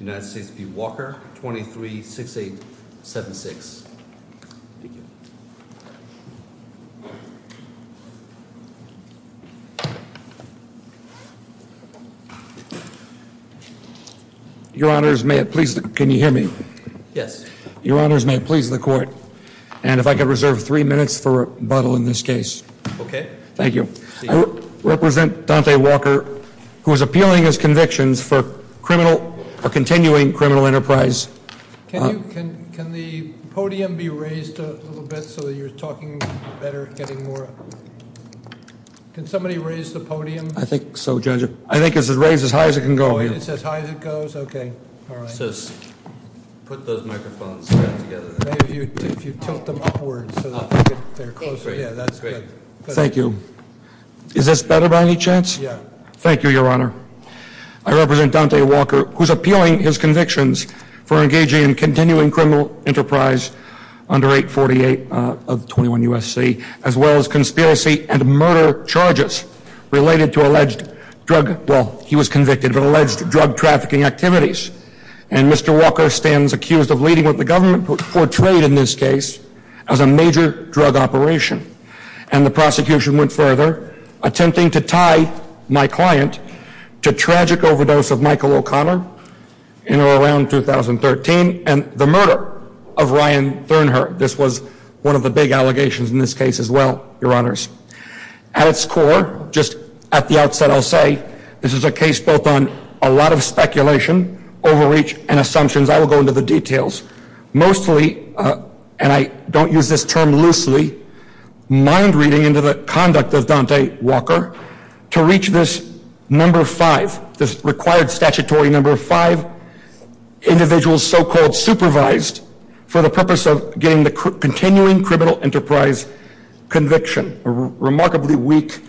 23-6876. Your honors, may it please, can you hear me? Yes. Your honors, may it please the court, and if I could reserve three minutes for rebuttal in this case. Okay. Thank you. I represent Dante Walker, who is appealing his convictions for criminal or continuing criminal enterprise. Can the podium be raised a little bit so that you're talking better, getting more? Can somebody raise the podium? I think so, Judge. I think it's raised as high as it can go. It's as high as it goes? Okay. Thank you. Is this better by any chance? Yeah. Thank you, Your Honor. I represent Dante Walker, who's appealing his convictions for engaging in continuing criminal enterprise under 848 of 21 U.S.C., as well as conspiracy and murder charges related to alleged drug, well, he was convicted of alleged drug trafficking activities. And Mr. Walker stands accused of leading what the government portrayed in this case as a major drug operation. And the prosecution went further, attempting to tie my client to tragic overdose of Michael O'Connor in or around 2013, and the murder of Ryan Thurnherr. This was one of the big allegations in this case as well, Your Honor. At its core, just at the outset, I'll say, this is a case built on a lot of speculation, overreach, and assumptions. I will go into the details. Mostly, and I don't use this term loosely, mind reading into the conduct of Dante Walker to reach this number 5, this required statutory number 5 individual so-called supervised for the purpose of getting the continuing criminal enterprise conviction, a remarkably weak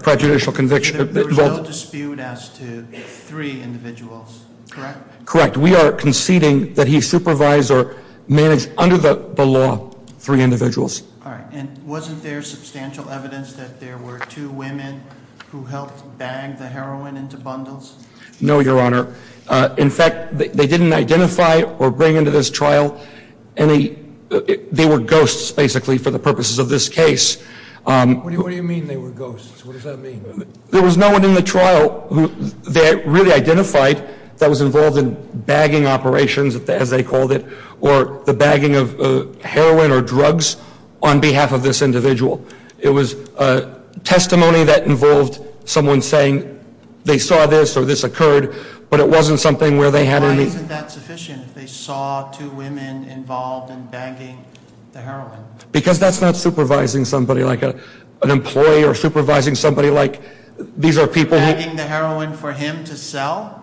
prejudicial conviction. There was no dispute as to three individuals, correct? Correct. We are conceding that he supervised or managed, under the law, three individuals. All right. And wasn't there substantial evidence that there were two women who helped bag the heroin into bundles? No, Your Honor. In fact, they didn't identify or bring into this trial any, they were ghosts, basically, for the purposes of this case. What do you mean they were ghosts? What does that mean? There was no one in the trial who they really identified that was involved in bagging operations, as they called it, or the bagging of heroin or drugs on behalf of this individual. It was testimony that involved someone saying, they saw this or this occurred, but it wasn't something where they had any... Because that's not supervising somebody like an employee or supervising somebody like, these are people who... Bagging the heroin for him to sell?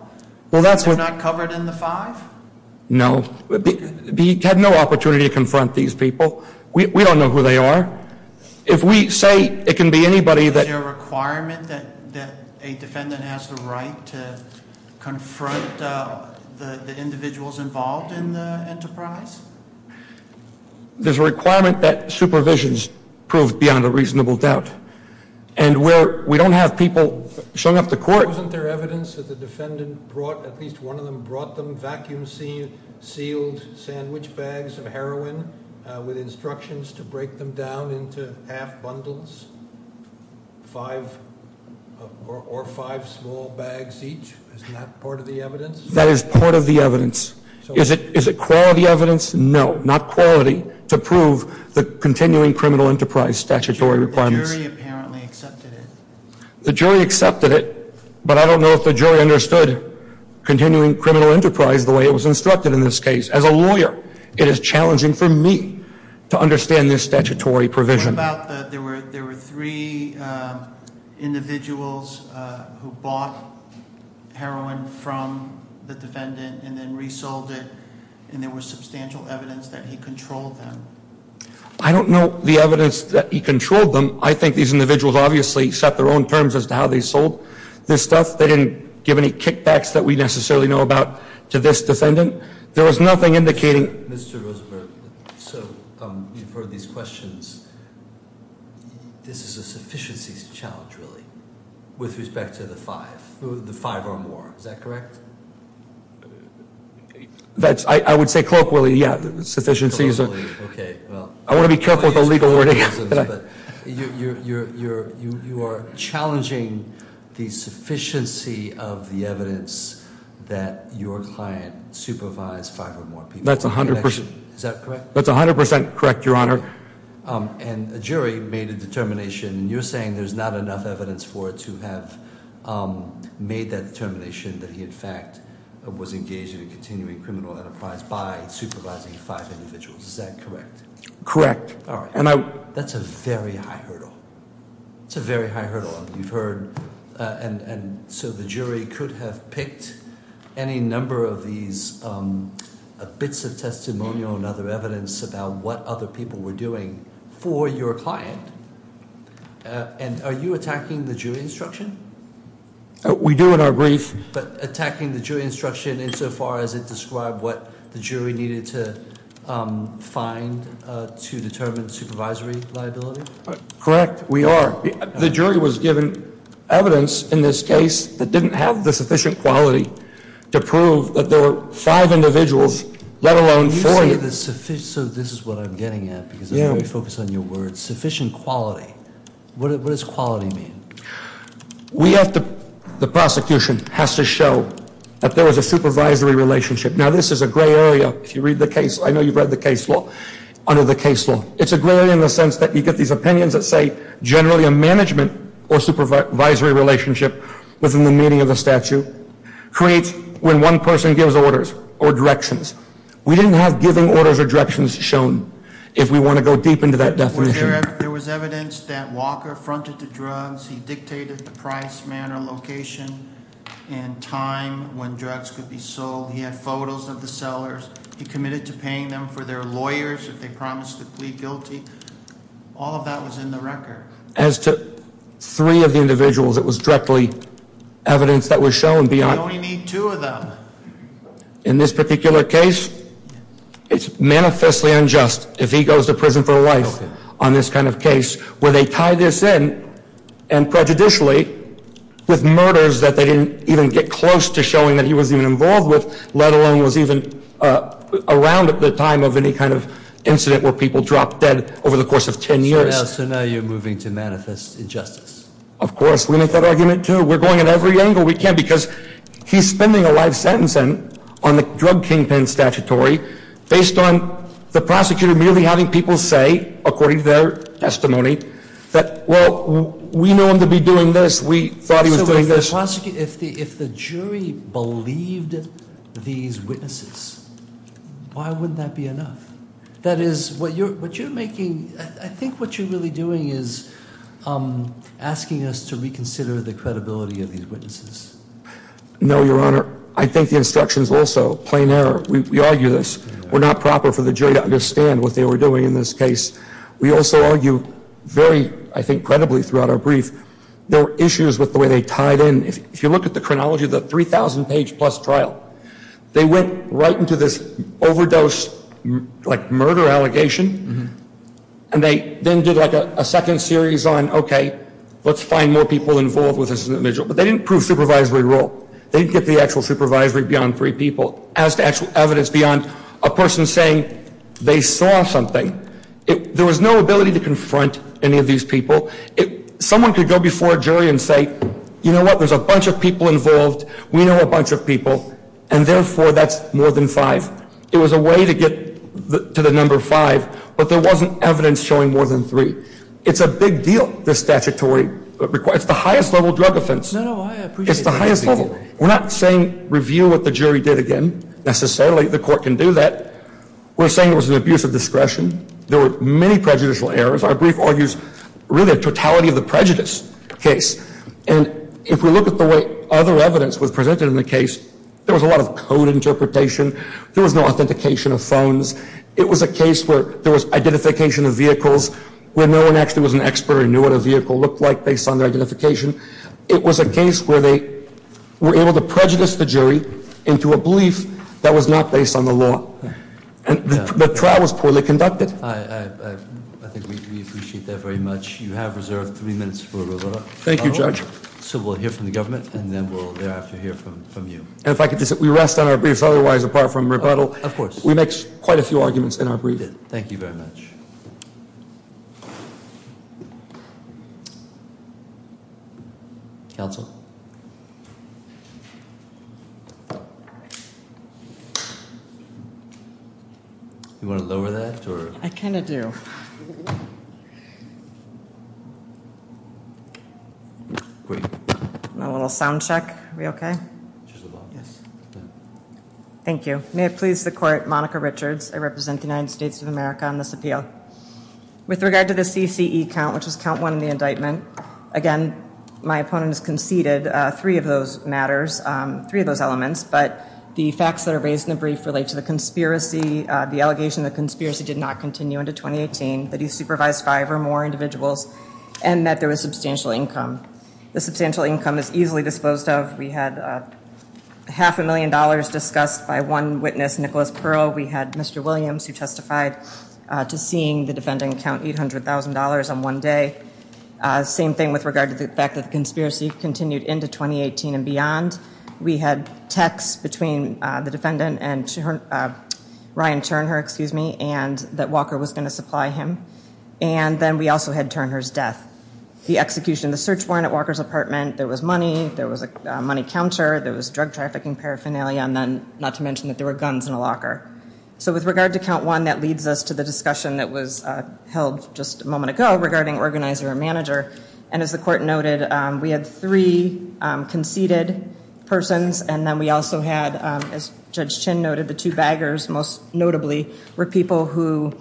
They're not covered in the 5? No. He had no opportunity to confront these people. We don't know who they are. If we say it can be anybody that... Is there a requirement that a defendant has the right to confront the individuals involved in the enterprise? There's a requirement that supervision's proved beyond a reasonable doubt. And where we don't have people showing up to court... Wasn't there evidence that the defendant brought, at least one of them brought them vacuum sealed sandwich bags of heroin with instructions to break them down into half bundles? Five or five small bags each? Isn't that part of the evidence? That is part of the evidence. Is it quality evidence? No. Not quality to prove the continuing criminal enterprise statutory requirements. The jury apparently accepted it. The jury accepted it, but I don't know if the jury understood continuing criminal enterprise the way it was instructed in this case. As a lawyer, it is challenging for me to understand this statutory provision. There were three individuals who bought heroin from the defendant and then resold it, and there was substantial evidence that he controlled them. I don't know the evidence that he controlled them. I think these individuals obviously set their own terms as to how they sold this stuff. They didn't give any kickbacks that we necessarily know about to this defendant. There was nothing indicating... Mr. Rosenberg, you've heard these questions. This is a sufficiencies challenge, really, with respect to the five or more. Is that correct? I would say colloquially, yeah, sufficiencies. Okay. I want to be careful with the legal wording. You are challenging the sufficiency of the evidence that your client supervised five or more people. That's 100%. Is that correct? That's 100% correct, Your Honor. And a jury made a determination, and you're saying there's not enough evidence for it to have made that determination that he, in fact, was engaged in a continuing criminal enterprise by supervising five individuals. Is that correct? Correct. All right. That's a very high hurdle. It's a very high hurdle. You've heard, and so the jury could have picked any number of these bits of testimonial and other evidence about what other people were doing for your client. And are you attacking the jury instruction? We do in our brief. But attacking the jury instruction insofar as it described what the jury needed to find to determine supervisory liability? Correct. We are. The jury was given evidence in this case that didn't have the sufficient quality to prove that there were five individuals, let alone four. So this is what I'm getting at because I'm very focused on your words, sufficient quality. What does quality mean? The prosecution has to show that there was a supervisory relationship. Now, this is a gray area if you read the case. I know you've read the case law under the case law. It's a gray area in the sense that you get these opinions that say generally a management or supervisory relationship within the meaning of the statute creates when one person gives orders or directions. We didn't have giving orders or directions shown if we want to go deep into that definition. There was evidence that Walker fronted to drugs. He dictated the price, manner, location, and time when drugs could be sold. He had photos of the sellers. He committed to paying them for their lawyers if they promised to plead guilty. All of that was in the record. As to three of the individuals, it was directly evidence that was shown beyond. We only need two of them. In this particular case, it's manifestly unjust if he goes to prison for life on this kind of case where they tie this in and prejudicially with murders that they didn't even get close to showing that he was even involved with, let alone was even around at the time of any kind of incident where people dropped dead over the course of ten years. So now you're moving to manifest injustice? Of course. We make that argument, too. We're going at every angle we can because he's spending a life sentence on the drug kingpin statutory based on the prosecutor merely having people say, according to their testimony, that, well, we know him to be doing this. We thought he was doing this. If the jury believed these witnesses, why wouldn't that be enough? That is, what you're making, I think what you're really doing is asking us to reconsider the credibility of these witnesses. No, Your Honor. I think the instructions also. Plain error. We argue this. We're not proper for the jury to understand what they were doing in this case. We also argue very, I think, credibly throughout our brief, there were issues with the way they tied in. If you look at the chronology of the 3,000-page-plus trial, they went right into this overdose, like, murder allegation, and they then did, like, a second series on, okay, let's find more people involved with this individual. But they didn't prove supervisory role. They didn't get the actual supervisory beyond three people. As to actual evidence beyond a person saying they saw something. There was no ability to confront any of these people. Someone could go before a jury and say, you know what, there's a bunch of people involved. We know a bunch of people, and therefore, that's more than five. It was a way to get to the number five, but there wasn't evidence showing more than three. It's a big deal, this statutory request. It's the highest level drug offense. No, no, I appreciate that. It's the highest level. We're not saying review what the jury did again, necessarily. The court can do that. We're saying it was an abuse of discretion. There were many prejudicial errors. Our brief argues really a totality of the prejudice case. And if we look at the way other evidence was presented in the case, there was a lot of code interpretation. There was no authentication of phones. It was a case where there was identification of vehicles where no one actually was an expert or knew what a vehicle looked like based on their identification. It was a case where they were able to prejudice the jury into a belief that was not based on the law. And the trial was poorly conducted. I think we appreciate that very much. You have reserved three minutes for rebuttal. Thank you, Judge. So we'll hear from the government, and then we'll have to hear from you. And if I could just say, we rest on our briefs otherwise, apart from rebuttal. Of course. We make quite a few arguments in our brief. Thank you very much. Counsel? You want to lower that? I kind of do. A little sound check. Are we okay? Thank you. May it please the court, Monica Richards. I represent the United States of America on this appeal. With regard to the CCE count, which is count one in the indictment. Again, my opponent has conceded three of those matters, three of those elements. But the facts that are raised in the brief relate to the conspiracy, the allegation the conspiracy did not continue into 2018, that he supervised five or more individuals, and that there was substantial income. The substantial income is easily disposed of. We had half a million dollars discussed by one witness, Nicholas Pearl. We had Mr. Williams, who testified to seeing the defendant count $800,000 on one day. Same thing with regard to the fact that the conspiracy continued into 2018 and beyond. We had texts between the defendant and Ryan Turnhur, and that Walker was going to supply him. And then we also had Turnhur's death. The execution of the search warrant at Walker's apartment. There was money. There was a money counter. There was drug trafficking, paraphernalia, and then not to mention that there were guns in the locker. So with regard to count one, that leads us to the discussion that was held just a moment ago regarding organizer or manager. And as the court noted, we had three conceded persons, and then we also had, as Judge Chin noted, the two baggers most notably were people who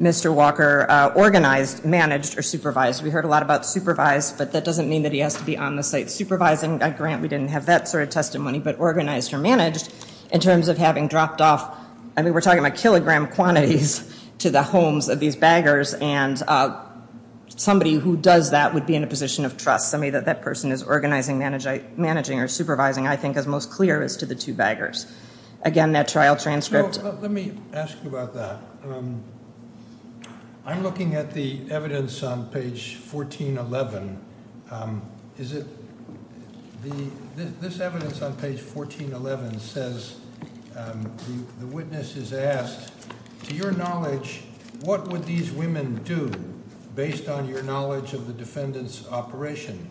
Mr. Walker organized, managed, or supervised. We heard a lot about supervised, but that doesn't mean that he has to be on the site supervising a grant. We didn't have that sort of testimony, but organized or managed in terms of having dropped off, I mean, we're talking about kilogram quantities to the homes of these baggers, and somebody who does that would be in a position of trust. I mean, that person is organizing, managing, or supervising, I think, as most clear as to the two baggers. Again, that trial transcript. Let me ask you about that. I'm looking at the evidence on page 1411. This evidence on page 1411 says the witness is asked, to your knowledge, what would these women do based on your knowledge of the defendant's operation?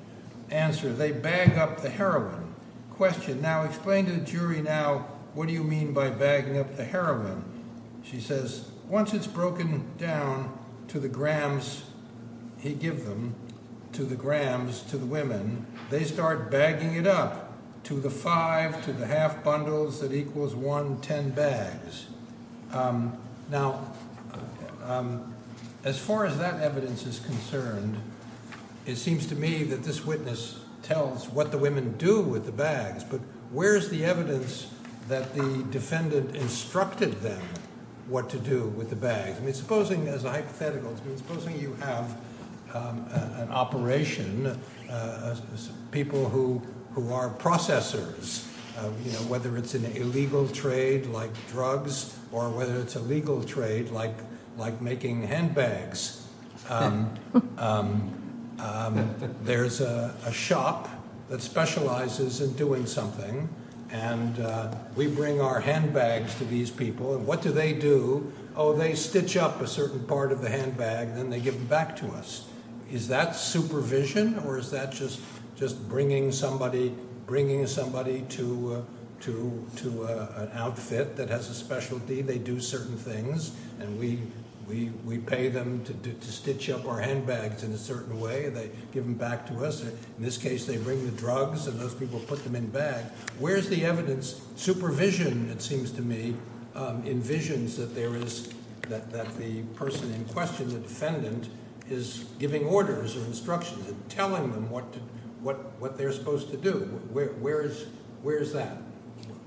Answer, they bag up the heroin. Question, now explain to the jury now what do you mean by bagging up the heroin? She says, once it's broken down to the grams he give them, to the grams to the women, they start bagging it up to the five to the half bundles that equals one ten bags. Now, as far as that evidence is concerned, it seems to me that this witness tells what the women do with the bags, but where's the evidence that the defendant instructed them what to do with the bags? I mean, supposing, as a hypothetical, supposing you have an operation, people who are processors, whether it's an illegal trade like drugs, or whether it's a legal trade like making handbags. There's a shop that specializes in doing something, and we bring our handbags to these people, and what do they do? Oh, they stitch up a certain part of the handbag, then they give them back to us. Is that supervision, or is that just bringing somebody to an outfit that has a specialty? They do certain things, and we pay them to stitch up our handbags in a certain way. They give them back to us. In this case, they bring the drugs, and those people put them in bags. Where's the evidence? Supervision, it seems to me, envisions that the person in question, the defendant, is giving orders or instructions and telling them what they're supposed to do. Where is that?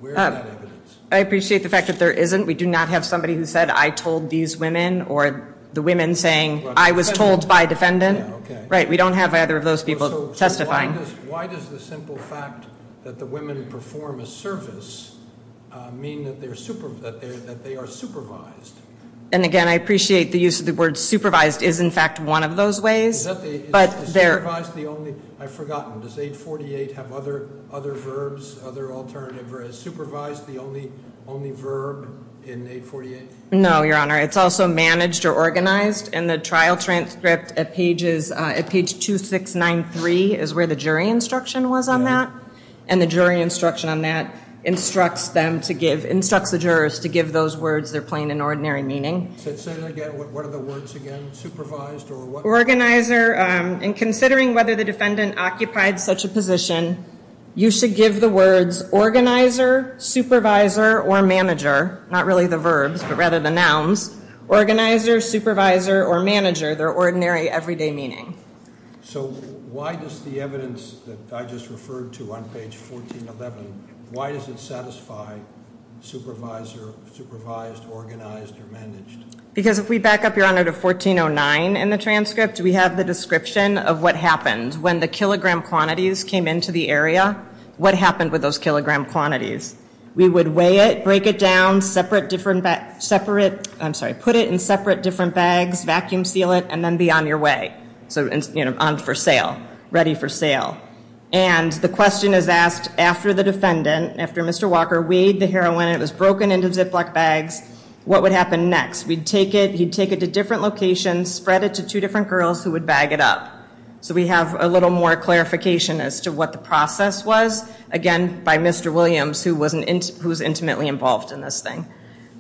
Where is that evidence? I appreciate the fact that there isn't. We do not have somebody who said, I told these women, or the women saying, I was told by defendant. Right, we don't have either of those people testifying. Why does the simple fact that the women perform a service mean that they are supervised? And again, I appreciate the use of the word supervised is, in fact, one of those ways. Is supervised the only? I've forgotten. Does 848 have other verbs, other alternative verbs? Supervised the only verb in 848? No, Your Honor. It's also managed or organized, and the trial transcript at page 2693 is where the jury instruction was on that. And the jury instruction on that instructs the jurors to give those words their plain and ordinary meaning. Say that again. What are the words again? Supervised or what? Organizer. In considering whether the defendant occupied such a position, you should give the words organizer, supervisor, or manager. Not really the verbs, but rather the nouns. Organizer, supervisor, or manager, their ordinary, everyday meaning. So why does the evidence that I just referred to on page 1411, why does it satisfy supervisor, supervised, organized, or managed? Because if we back up, Your Honor, to 1409 in the transcript, we have the description of what happened. When the kilogram quantities came into the area, what happened with those kilogram quantities? We would weigh it, break it down, separate different, separate, I'm sorry, put it in separate different bags, vacuum seal it, and then be on your way. So, you know, on for sale, ready for sale. And the question is asked after the defendant, after Mr. Walker weighed the heroin, it was broken into Ziploc bags, what would happen next? We'd take it, he'd take it to different locations, spread it to two different girls who would bag it up. So we have a little more clarification as to what the process was. Again, by Mr. Williams, who was intimately involved in this thing.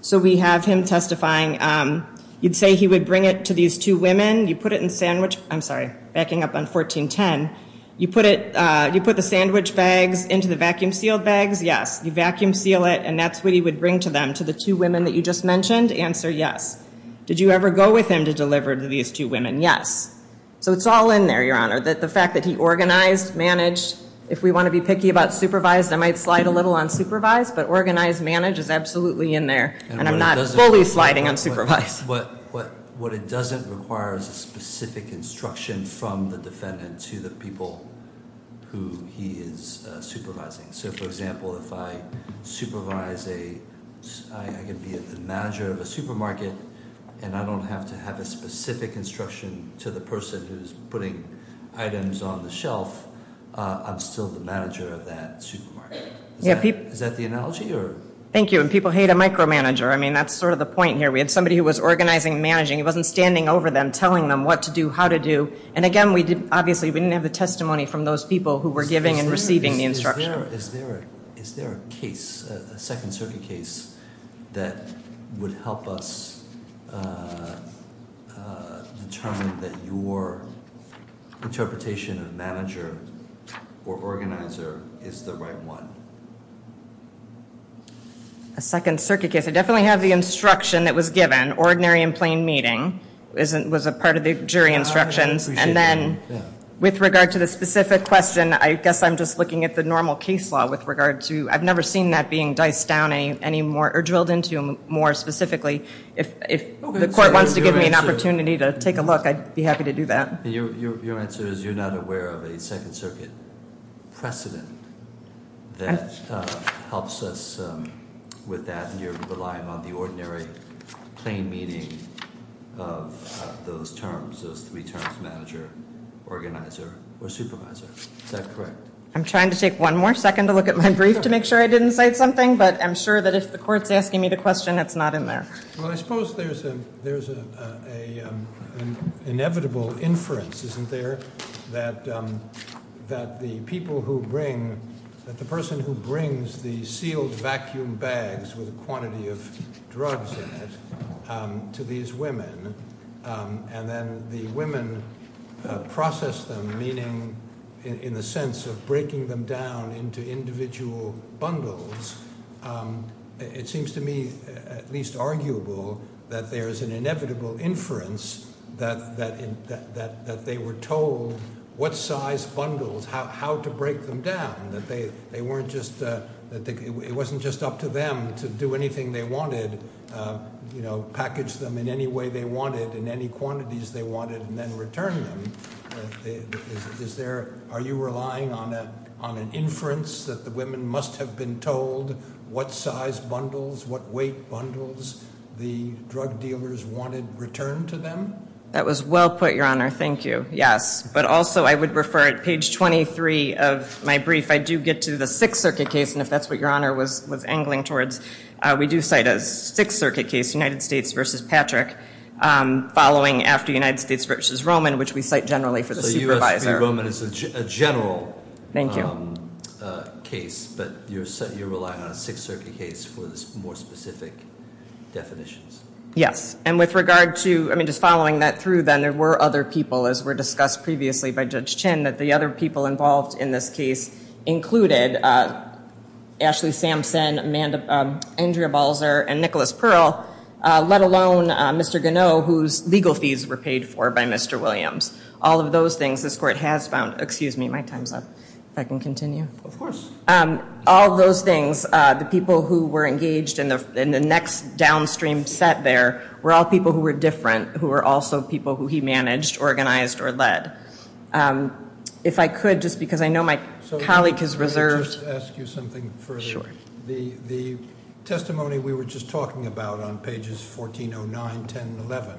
So we have him testifying. You'd say he would bring it to these two women. You put it in sandwich, I'm sorry, backing up on 1410. You put it, you put the sandwich bags into the vacuum sealed bags. Yes. You vacuum seal it, and that's what he would bring to them, to the two women that you just mentioned. Answer, yes. Did you ever go with him to deliver to these two women? Yes. So it's all in there, Your Honor. The fact that he organized, managed. If we want to be picky about supervised, I might slide a little on supervised. But organized, managed is absolutely in there. And I'm not fully sliding on supervised. What it doesn't require is a specific instruction from the defendant to the people who he is supervising. So, for example, if I supervise a, I can be the manager of a supermarket, and I don't have to have a specific instruction to the person who's putting items on the shelf, I'm still the manager of that supermarket. Is that the analogy? Thank you. And people hate a micromanager. I mean, that's sort of the point here. We had somebody who was organizing and managing. He wasn't standing over them, telling them what to do, how to do. And, again, obviously we didn't have the testimony from those people who were giving and receiving the instruction. Is there a case, a Second Circuit case, that would help us determine that your interpretation of manager or organizer is the right one? A Second Circuit case. I definitely have the instruction that was given, ordinary and plain meeting. It was a part of the jury instructions. And then, with regard to the specific question, I guess I'm just looking at the normal case law with regard to, I've never seen that being diced down any more, or drilled into more specifically. If the court wants to give me an opportunity to take a look, I'd be happy to do that. Your answer is you're not aware of a Second Circuit precedent that helps us with that, and you're relying on the ordinary plain meeting of those terms, those three terms, manager, organizer, or supervisor. Is that correct? I'm trying to take one more second to look at my brief to make sure I didn't cite something, but I'm sure that if the court's asking me the question, it's not in there. Well, I suppose there's an inevitable inference, isn't there, that the person who brings the sealed vacuum bags with a quantity of drugs in it to these women, and then the women process them, meaning in the sense of breaking them down into individual bundles, it seems to me at least arguable that there's an inevitable inference that they were told what size bundles, how to break them down, that it wasn't just up to them to do anything they wanted, package them in any way they wanted, in any quantities they wanted, and then return them. Are you relying on an inference that the women must have been told what size bundles, what weight bundles the drug dealers wanted returned to them? That was well put, Your Honor. Thank you. Yes, but also I would refer at page 23 of my brief, I do get to the Sixth Circuit case, and if that's what Your Honor was angling towards, we do cite a Sixth Circuit case, United States v. Patrick, following after United States v. Roman, which we cite generally for the supervisor. So U.S. v. Roman is a general case, but you're relying on a Sixth Circuit case for the more specific definitions? Yes. And with regard to, I mean, just following that through then, there were other people, as were discussed previously by Judge Chinn, that the other people involved in this case included Ashley Samson, Andrea Balzer, and Nicholas Pearl, let alone Mr. Gonneau, whose legal fees were paid for by Mr. Williams. All of those things, this Court has found, excuse me, my time's up. If I can continue. Of course. All of those things, the people who were engaged in the next downstream set there, were all people who were different, who were also people who he managed, organized, or led. If I could, just because I know my colleague has reserved. Let me first ask you something further. The testimony we were just talking about on pages 1409, 10, and 11,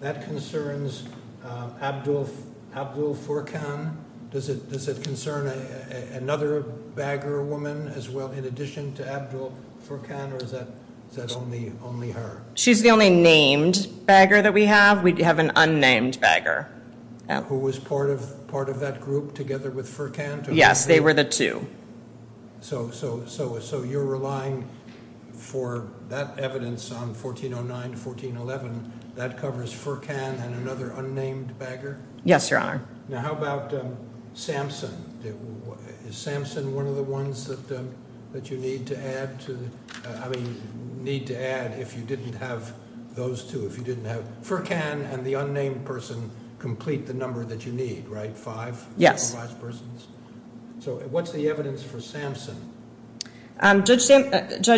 that concerns Abdul Furkan. Does it concern another bagger woman as well, in addition to Abdul Furkan, or is that only her? She's the only named bagger that we have. We have an unnamed bagger. Who was part of that group together with Furkan? Yes, they were the two. So you're relying for that evidence on 1409 to 1411. That covers Furkan and another unnamed bagger? Yes, Your Honor. Now how about Samson? Is Samson one of the ones that you need to add to, I mean, need to add if you didn't have those two? If you didn't have, Furkan and the unnamed person complete the number that you need, right? Five? So what's the evidence for Samson? Judge, thank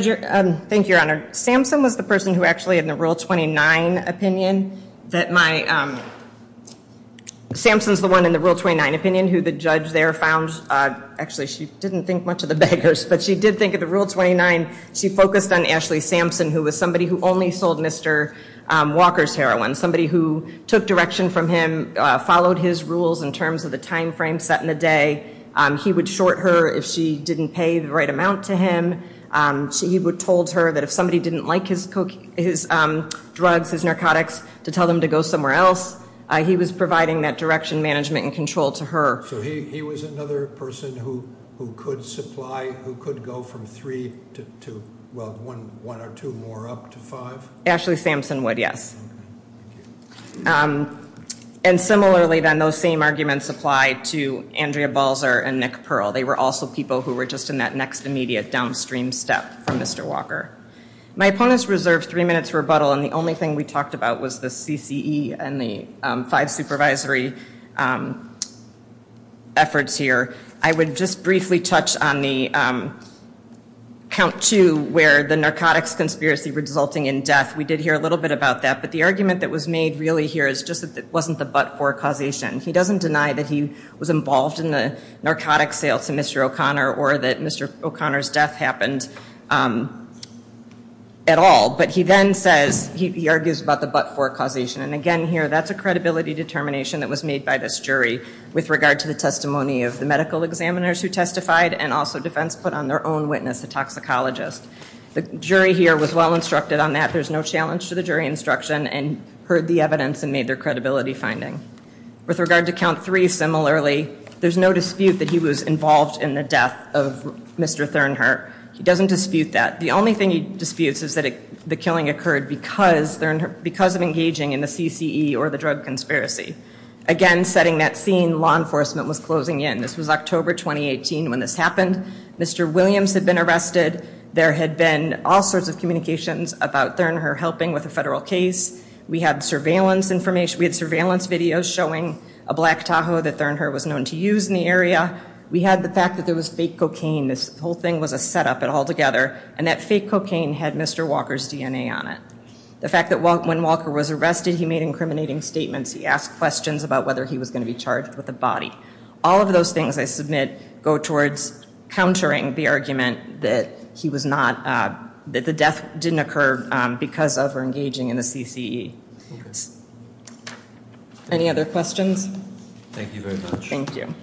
you, Your Honor. Samson was the person who actually, in the Rule 29 opinion, that my – Samson's the one in the Rule 29 opinion who the judge there found – actually, she didn't think much of the baggers, but she did think of the Rule 29. She focused on Ashley Samson, who was somebody who only sold Mr. Walker's heroin, somebody who took direction from him, followed his rules in terms of the timeframe set in the day. He would short her if she didn't pay the right amount to him. He told her that if somebody didn't like his drugs, his narcotics, to tell them to go somewhere else, he was providing that direction, management, and control to her. So he was another person who could supply, who could go from three to, well, one or two more up to five? Ashley Samson would, yes. And similarly, then, those same arguments apply to Andrea Balzer and Nick Pearl. They were also people who were just in that next immediate downstream step from Mr. Walker. My opponents reserved three minutes for rebuttal, and the only thing we talked about was the CCE and the five supervisory efforts here. I would just briefly touch on the count two, where the narcotics conspiracy resulting in death. We did hear a little bit about that. But the argument that was made really here is just that it wasn't the but-for causation. He doesn't deny that he was involved in the narcotics sales to Mr. O'Connor or that Mr. O'Connor's death happened at all. But he then says, he argues about the but-for causation. And again here, that's a credibility determination that was made by this jury with regard to the testimony of the medical examiners who testified and also defense put on their own witness, the toxicologist. The jury here was well instructed on that. There's no challenge to the jury instruction and heard the evidence and made their credibility finding. With regard to count three, similarly, there's no dispute that he was involved in the death of Mr. Thernhart. He doesn't dispute that. The only thing he disputes is that the killing occurred because of engaging in the CCE or the drug conspiracy. Again, setting that scene, law enforcement was closing in. This was October 2018 when this happened. Mr. Williams had been arrested. There had been all sorts of communications about Thernhart helping with a federal case. We had surveillance information. We had surveillance videos showing a black Tahoe that Thernhart was known to use in the area. We had the fact that there was fake cocaine. This whole thing was a setup altogether. And that fake cocaine had Mr. Walker's DNA on it. The fact that when Walker was arrested, he made incriminating statements. He asked questions about whether he was going to be charged with a body. All of those things, I submit, go towards countering the argument that he was not, that the death didn't occur because of or engaging in the CCE. Any other questions? Thank you very much. Thank you.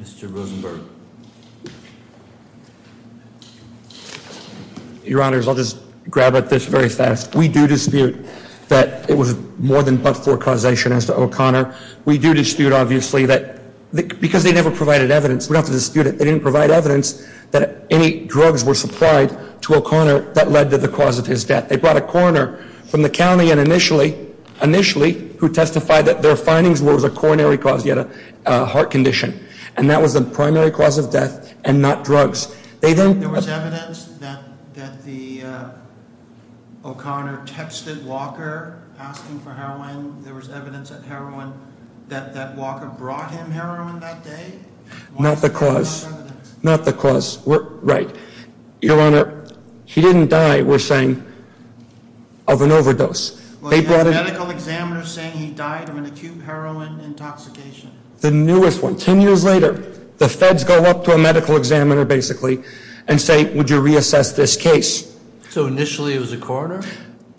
Mr. Rosenberg. Your Honors, I'll just grab at this very fast. We do dispute that it was more than but for causation as to O'Connor. We do dispute, obviously, that because they never provided evidence, we don't have to dispute it. They didn't provide evidence that any drugs were supplied to O'Connor that led to the cause of his death. They brought a coroner from the county initially who testified that their findings was a coronary cause. He had a heart condition. And that was the primary cause of death and not drugs. There was evidence that the O'Connor texted Walker asking for heroin. There was evidence that heroin, that Walker brought him heroin that day. Not the cause. Not the cause. Right. Your Honor, he didn't die, we're saying, of an overdose. Well, he had a medical examiner saying he died of an acute heroin intoxication. The newest one. Ten years later, the feds go up to a medical examiner, basically, and say, would you reassess this case? So initially it was a coroner?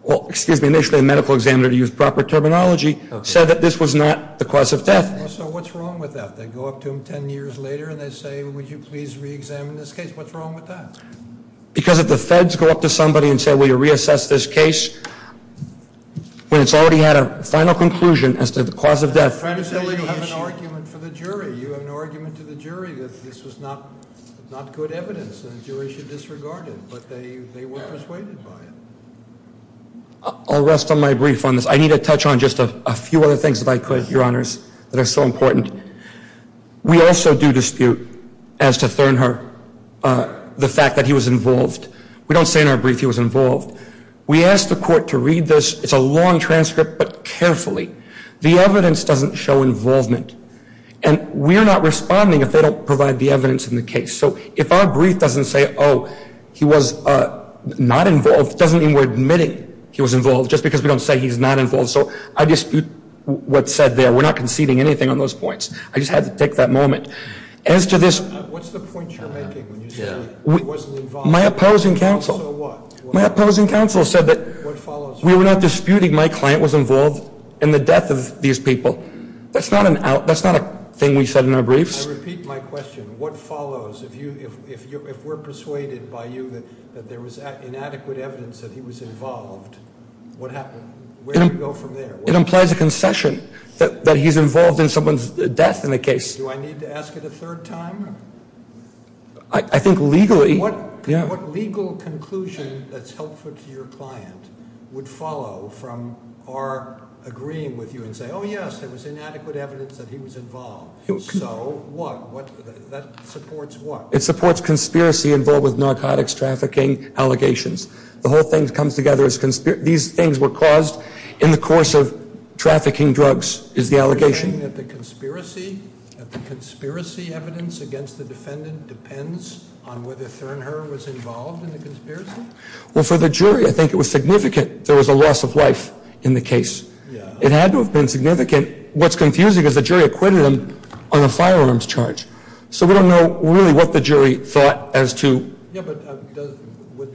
Well, excuse me, initially a medical examiner, to use proper terminology, said that this was not the cause of death. So what's wrong with that? They go up to him ten years later and they say, would you please reexamine this case? What's wrong with that? Because if the feds go up to somebody and say, will you reassess this case? When it's already had a final conclusion as to the cause of death. You have an argument for the jury. You have an argument to the jury that this was not good evidence. The jury should disregard it, but they were persuaded by it. I'll rest on my brief on this. I need to touch on just a few other things if I could, Your Honors, that are so important. We also do dispute as to Thurnherr the fact that he was involved. We don't say in our brief he was involved. We ask the court to read this. It's a long transcript, but carefully. The evidence doesn't show involvement. And we're not responding if they don't provide the evidence in the case. So if our brief doesn't say, oh, he was not involved, it doesn't mean we're admitting he was involved just because we don't say he's not involved. So I dispute what's said there. We're not conceding anything on those points. I just had to take that moment. As to this ---- What's the point you're making when you say he wasn't involved? My opposing counsel said that we were not disputing my client was involved in the death of these people. That's not a thing we said in our briefs. I repeat my question. What follows? If we're persuaded by you that there was inadequate evidence that he was involved, what happens? Where do we go from there? It implies a concession that he's involved in someone's death in the case. Do I need to ask it a third time? I think legally, yeah. What legal conclusion that's helpful to your client would follow from our agreeing with you and say, oh, yes, there was inadequate evidence that he was involved. So what? That supports what? It supports conspiracy involved with narcotics trafficking allegations. The whole thing comes together as these things were caused in the course of trafficking drugs is the allegation. Are you saying that the conspiracy evidence against the defendant depends on whether Thernherr was involved in the conspiracy? Well, for the jury, I think it was significant there was a loss of life in the case. It had to have been significant. What's confusing is the jury acquitted him on a firearms charge. So we don't know really what the jury thought as to. Yeah, but would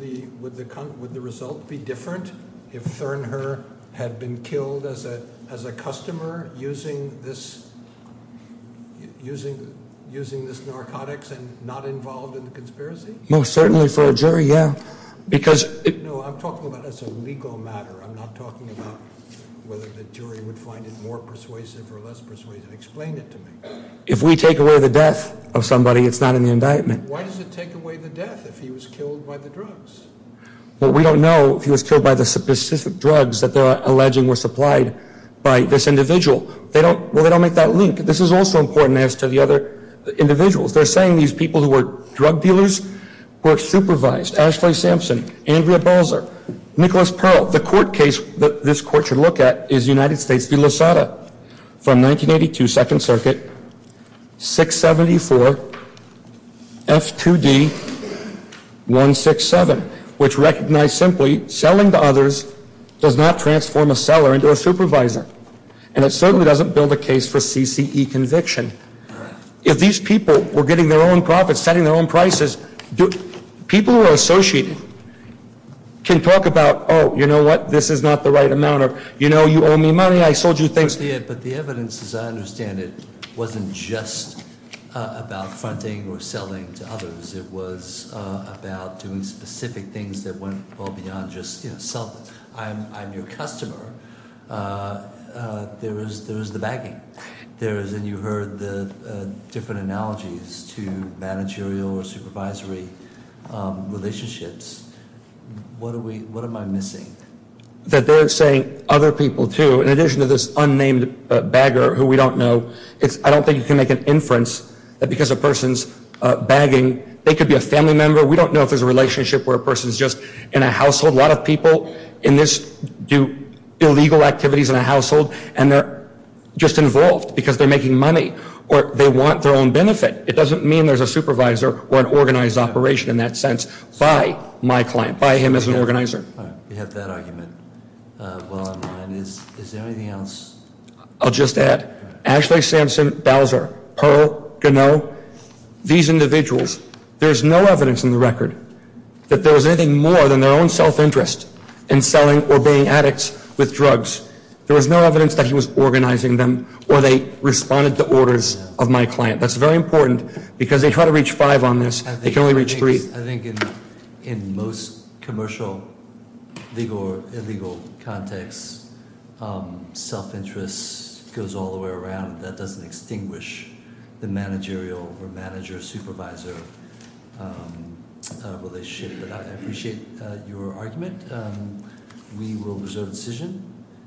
the result be different if Thernherr had been killed as a customer using this narcotics and not involved in the conspiracy? Most certainly for a jury, yeah. No, I'm talking about as a legal matter. I'm not talking about whether the jury would find it more persuasive or less persuasive. Explain it to me. If we take away the death of somebody, it's not in the indictment. Why does it take away the death if he was killed by the drugs? Well, we don't know if he was killed by the specific drugs that they're alleging were supplied by this individual. They don't make that link. This is also important as to the other individuals. They're saying these people who were drug dealers were supervised. Ashley Sampson, Andrea Balzer, Nicholas Pearl. The court case that this court should look at is United States v. Losada from 1982 Second Circuit, 674 F2D 167, which recognized simply selling to others does not transform a seller into a supervisor. And it certainly doesn't build a case for CCE conviction. If these people were getting their own profits, setting their own prices, people who are associated can talk about, you know what, this is not the right amount. Or you owe me money, I sold you things. But the evidence, as I understand it, wasn't just about fronting or selling to others. It was about doing specific things that went well beyond just selling. I'm your customer. There was the bagging. There is, and you heard the different analogies to managerial or supervisory relationships. What am I missing? That they're saying other people, too, in addition to this unnamed bagger who we don't know. I don't think you can make an inference that because a person's bagging, they could be a family member. We don't know if there's a relationship where a person's just in a household. A lot of people in this do illegal activities in a household, and they're just involved because they're making money. Or they want their own benefit. It doesn't mean there's a supervisor or an organized operation in that sense by my client, by him as an organizer. You have that argument well in line. Is there anything else? I'll just add. Ashley, Samson, Bowser, Pearl, Gano, these individuals, there's no evidence in the record that there was anything more than their own self-interest in selling or being addicts with drugs. There was no evidence that he was organizing them or they responded to orders of my client. That's very important because they try to reach five on this. They can only reach three. I think in most commercial legal context, self-interest goes all the way around. That doesn't extinguish the managerial or manager-supervisor relationship. But I appreciate your argument. We will reserve a decision.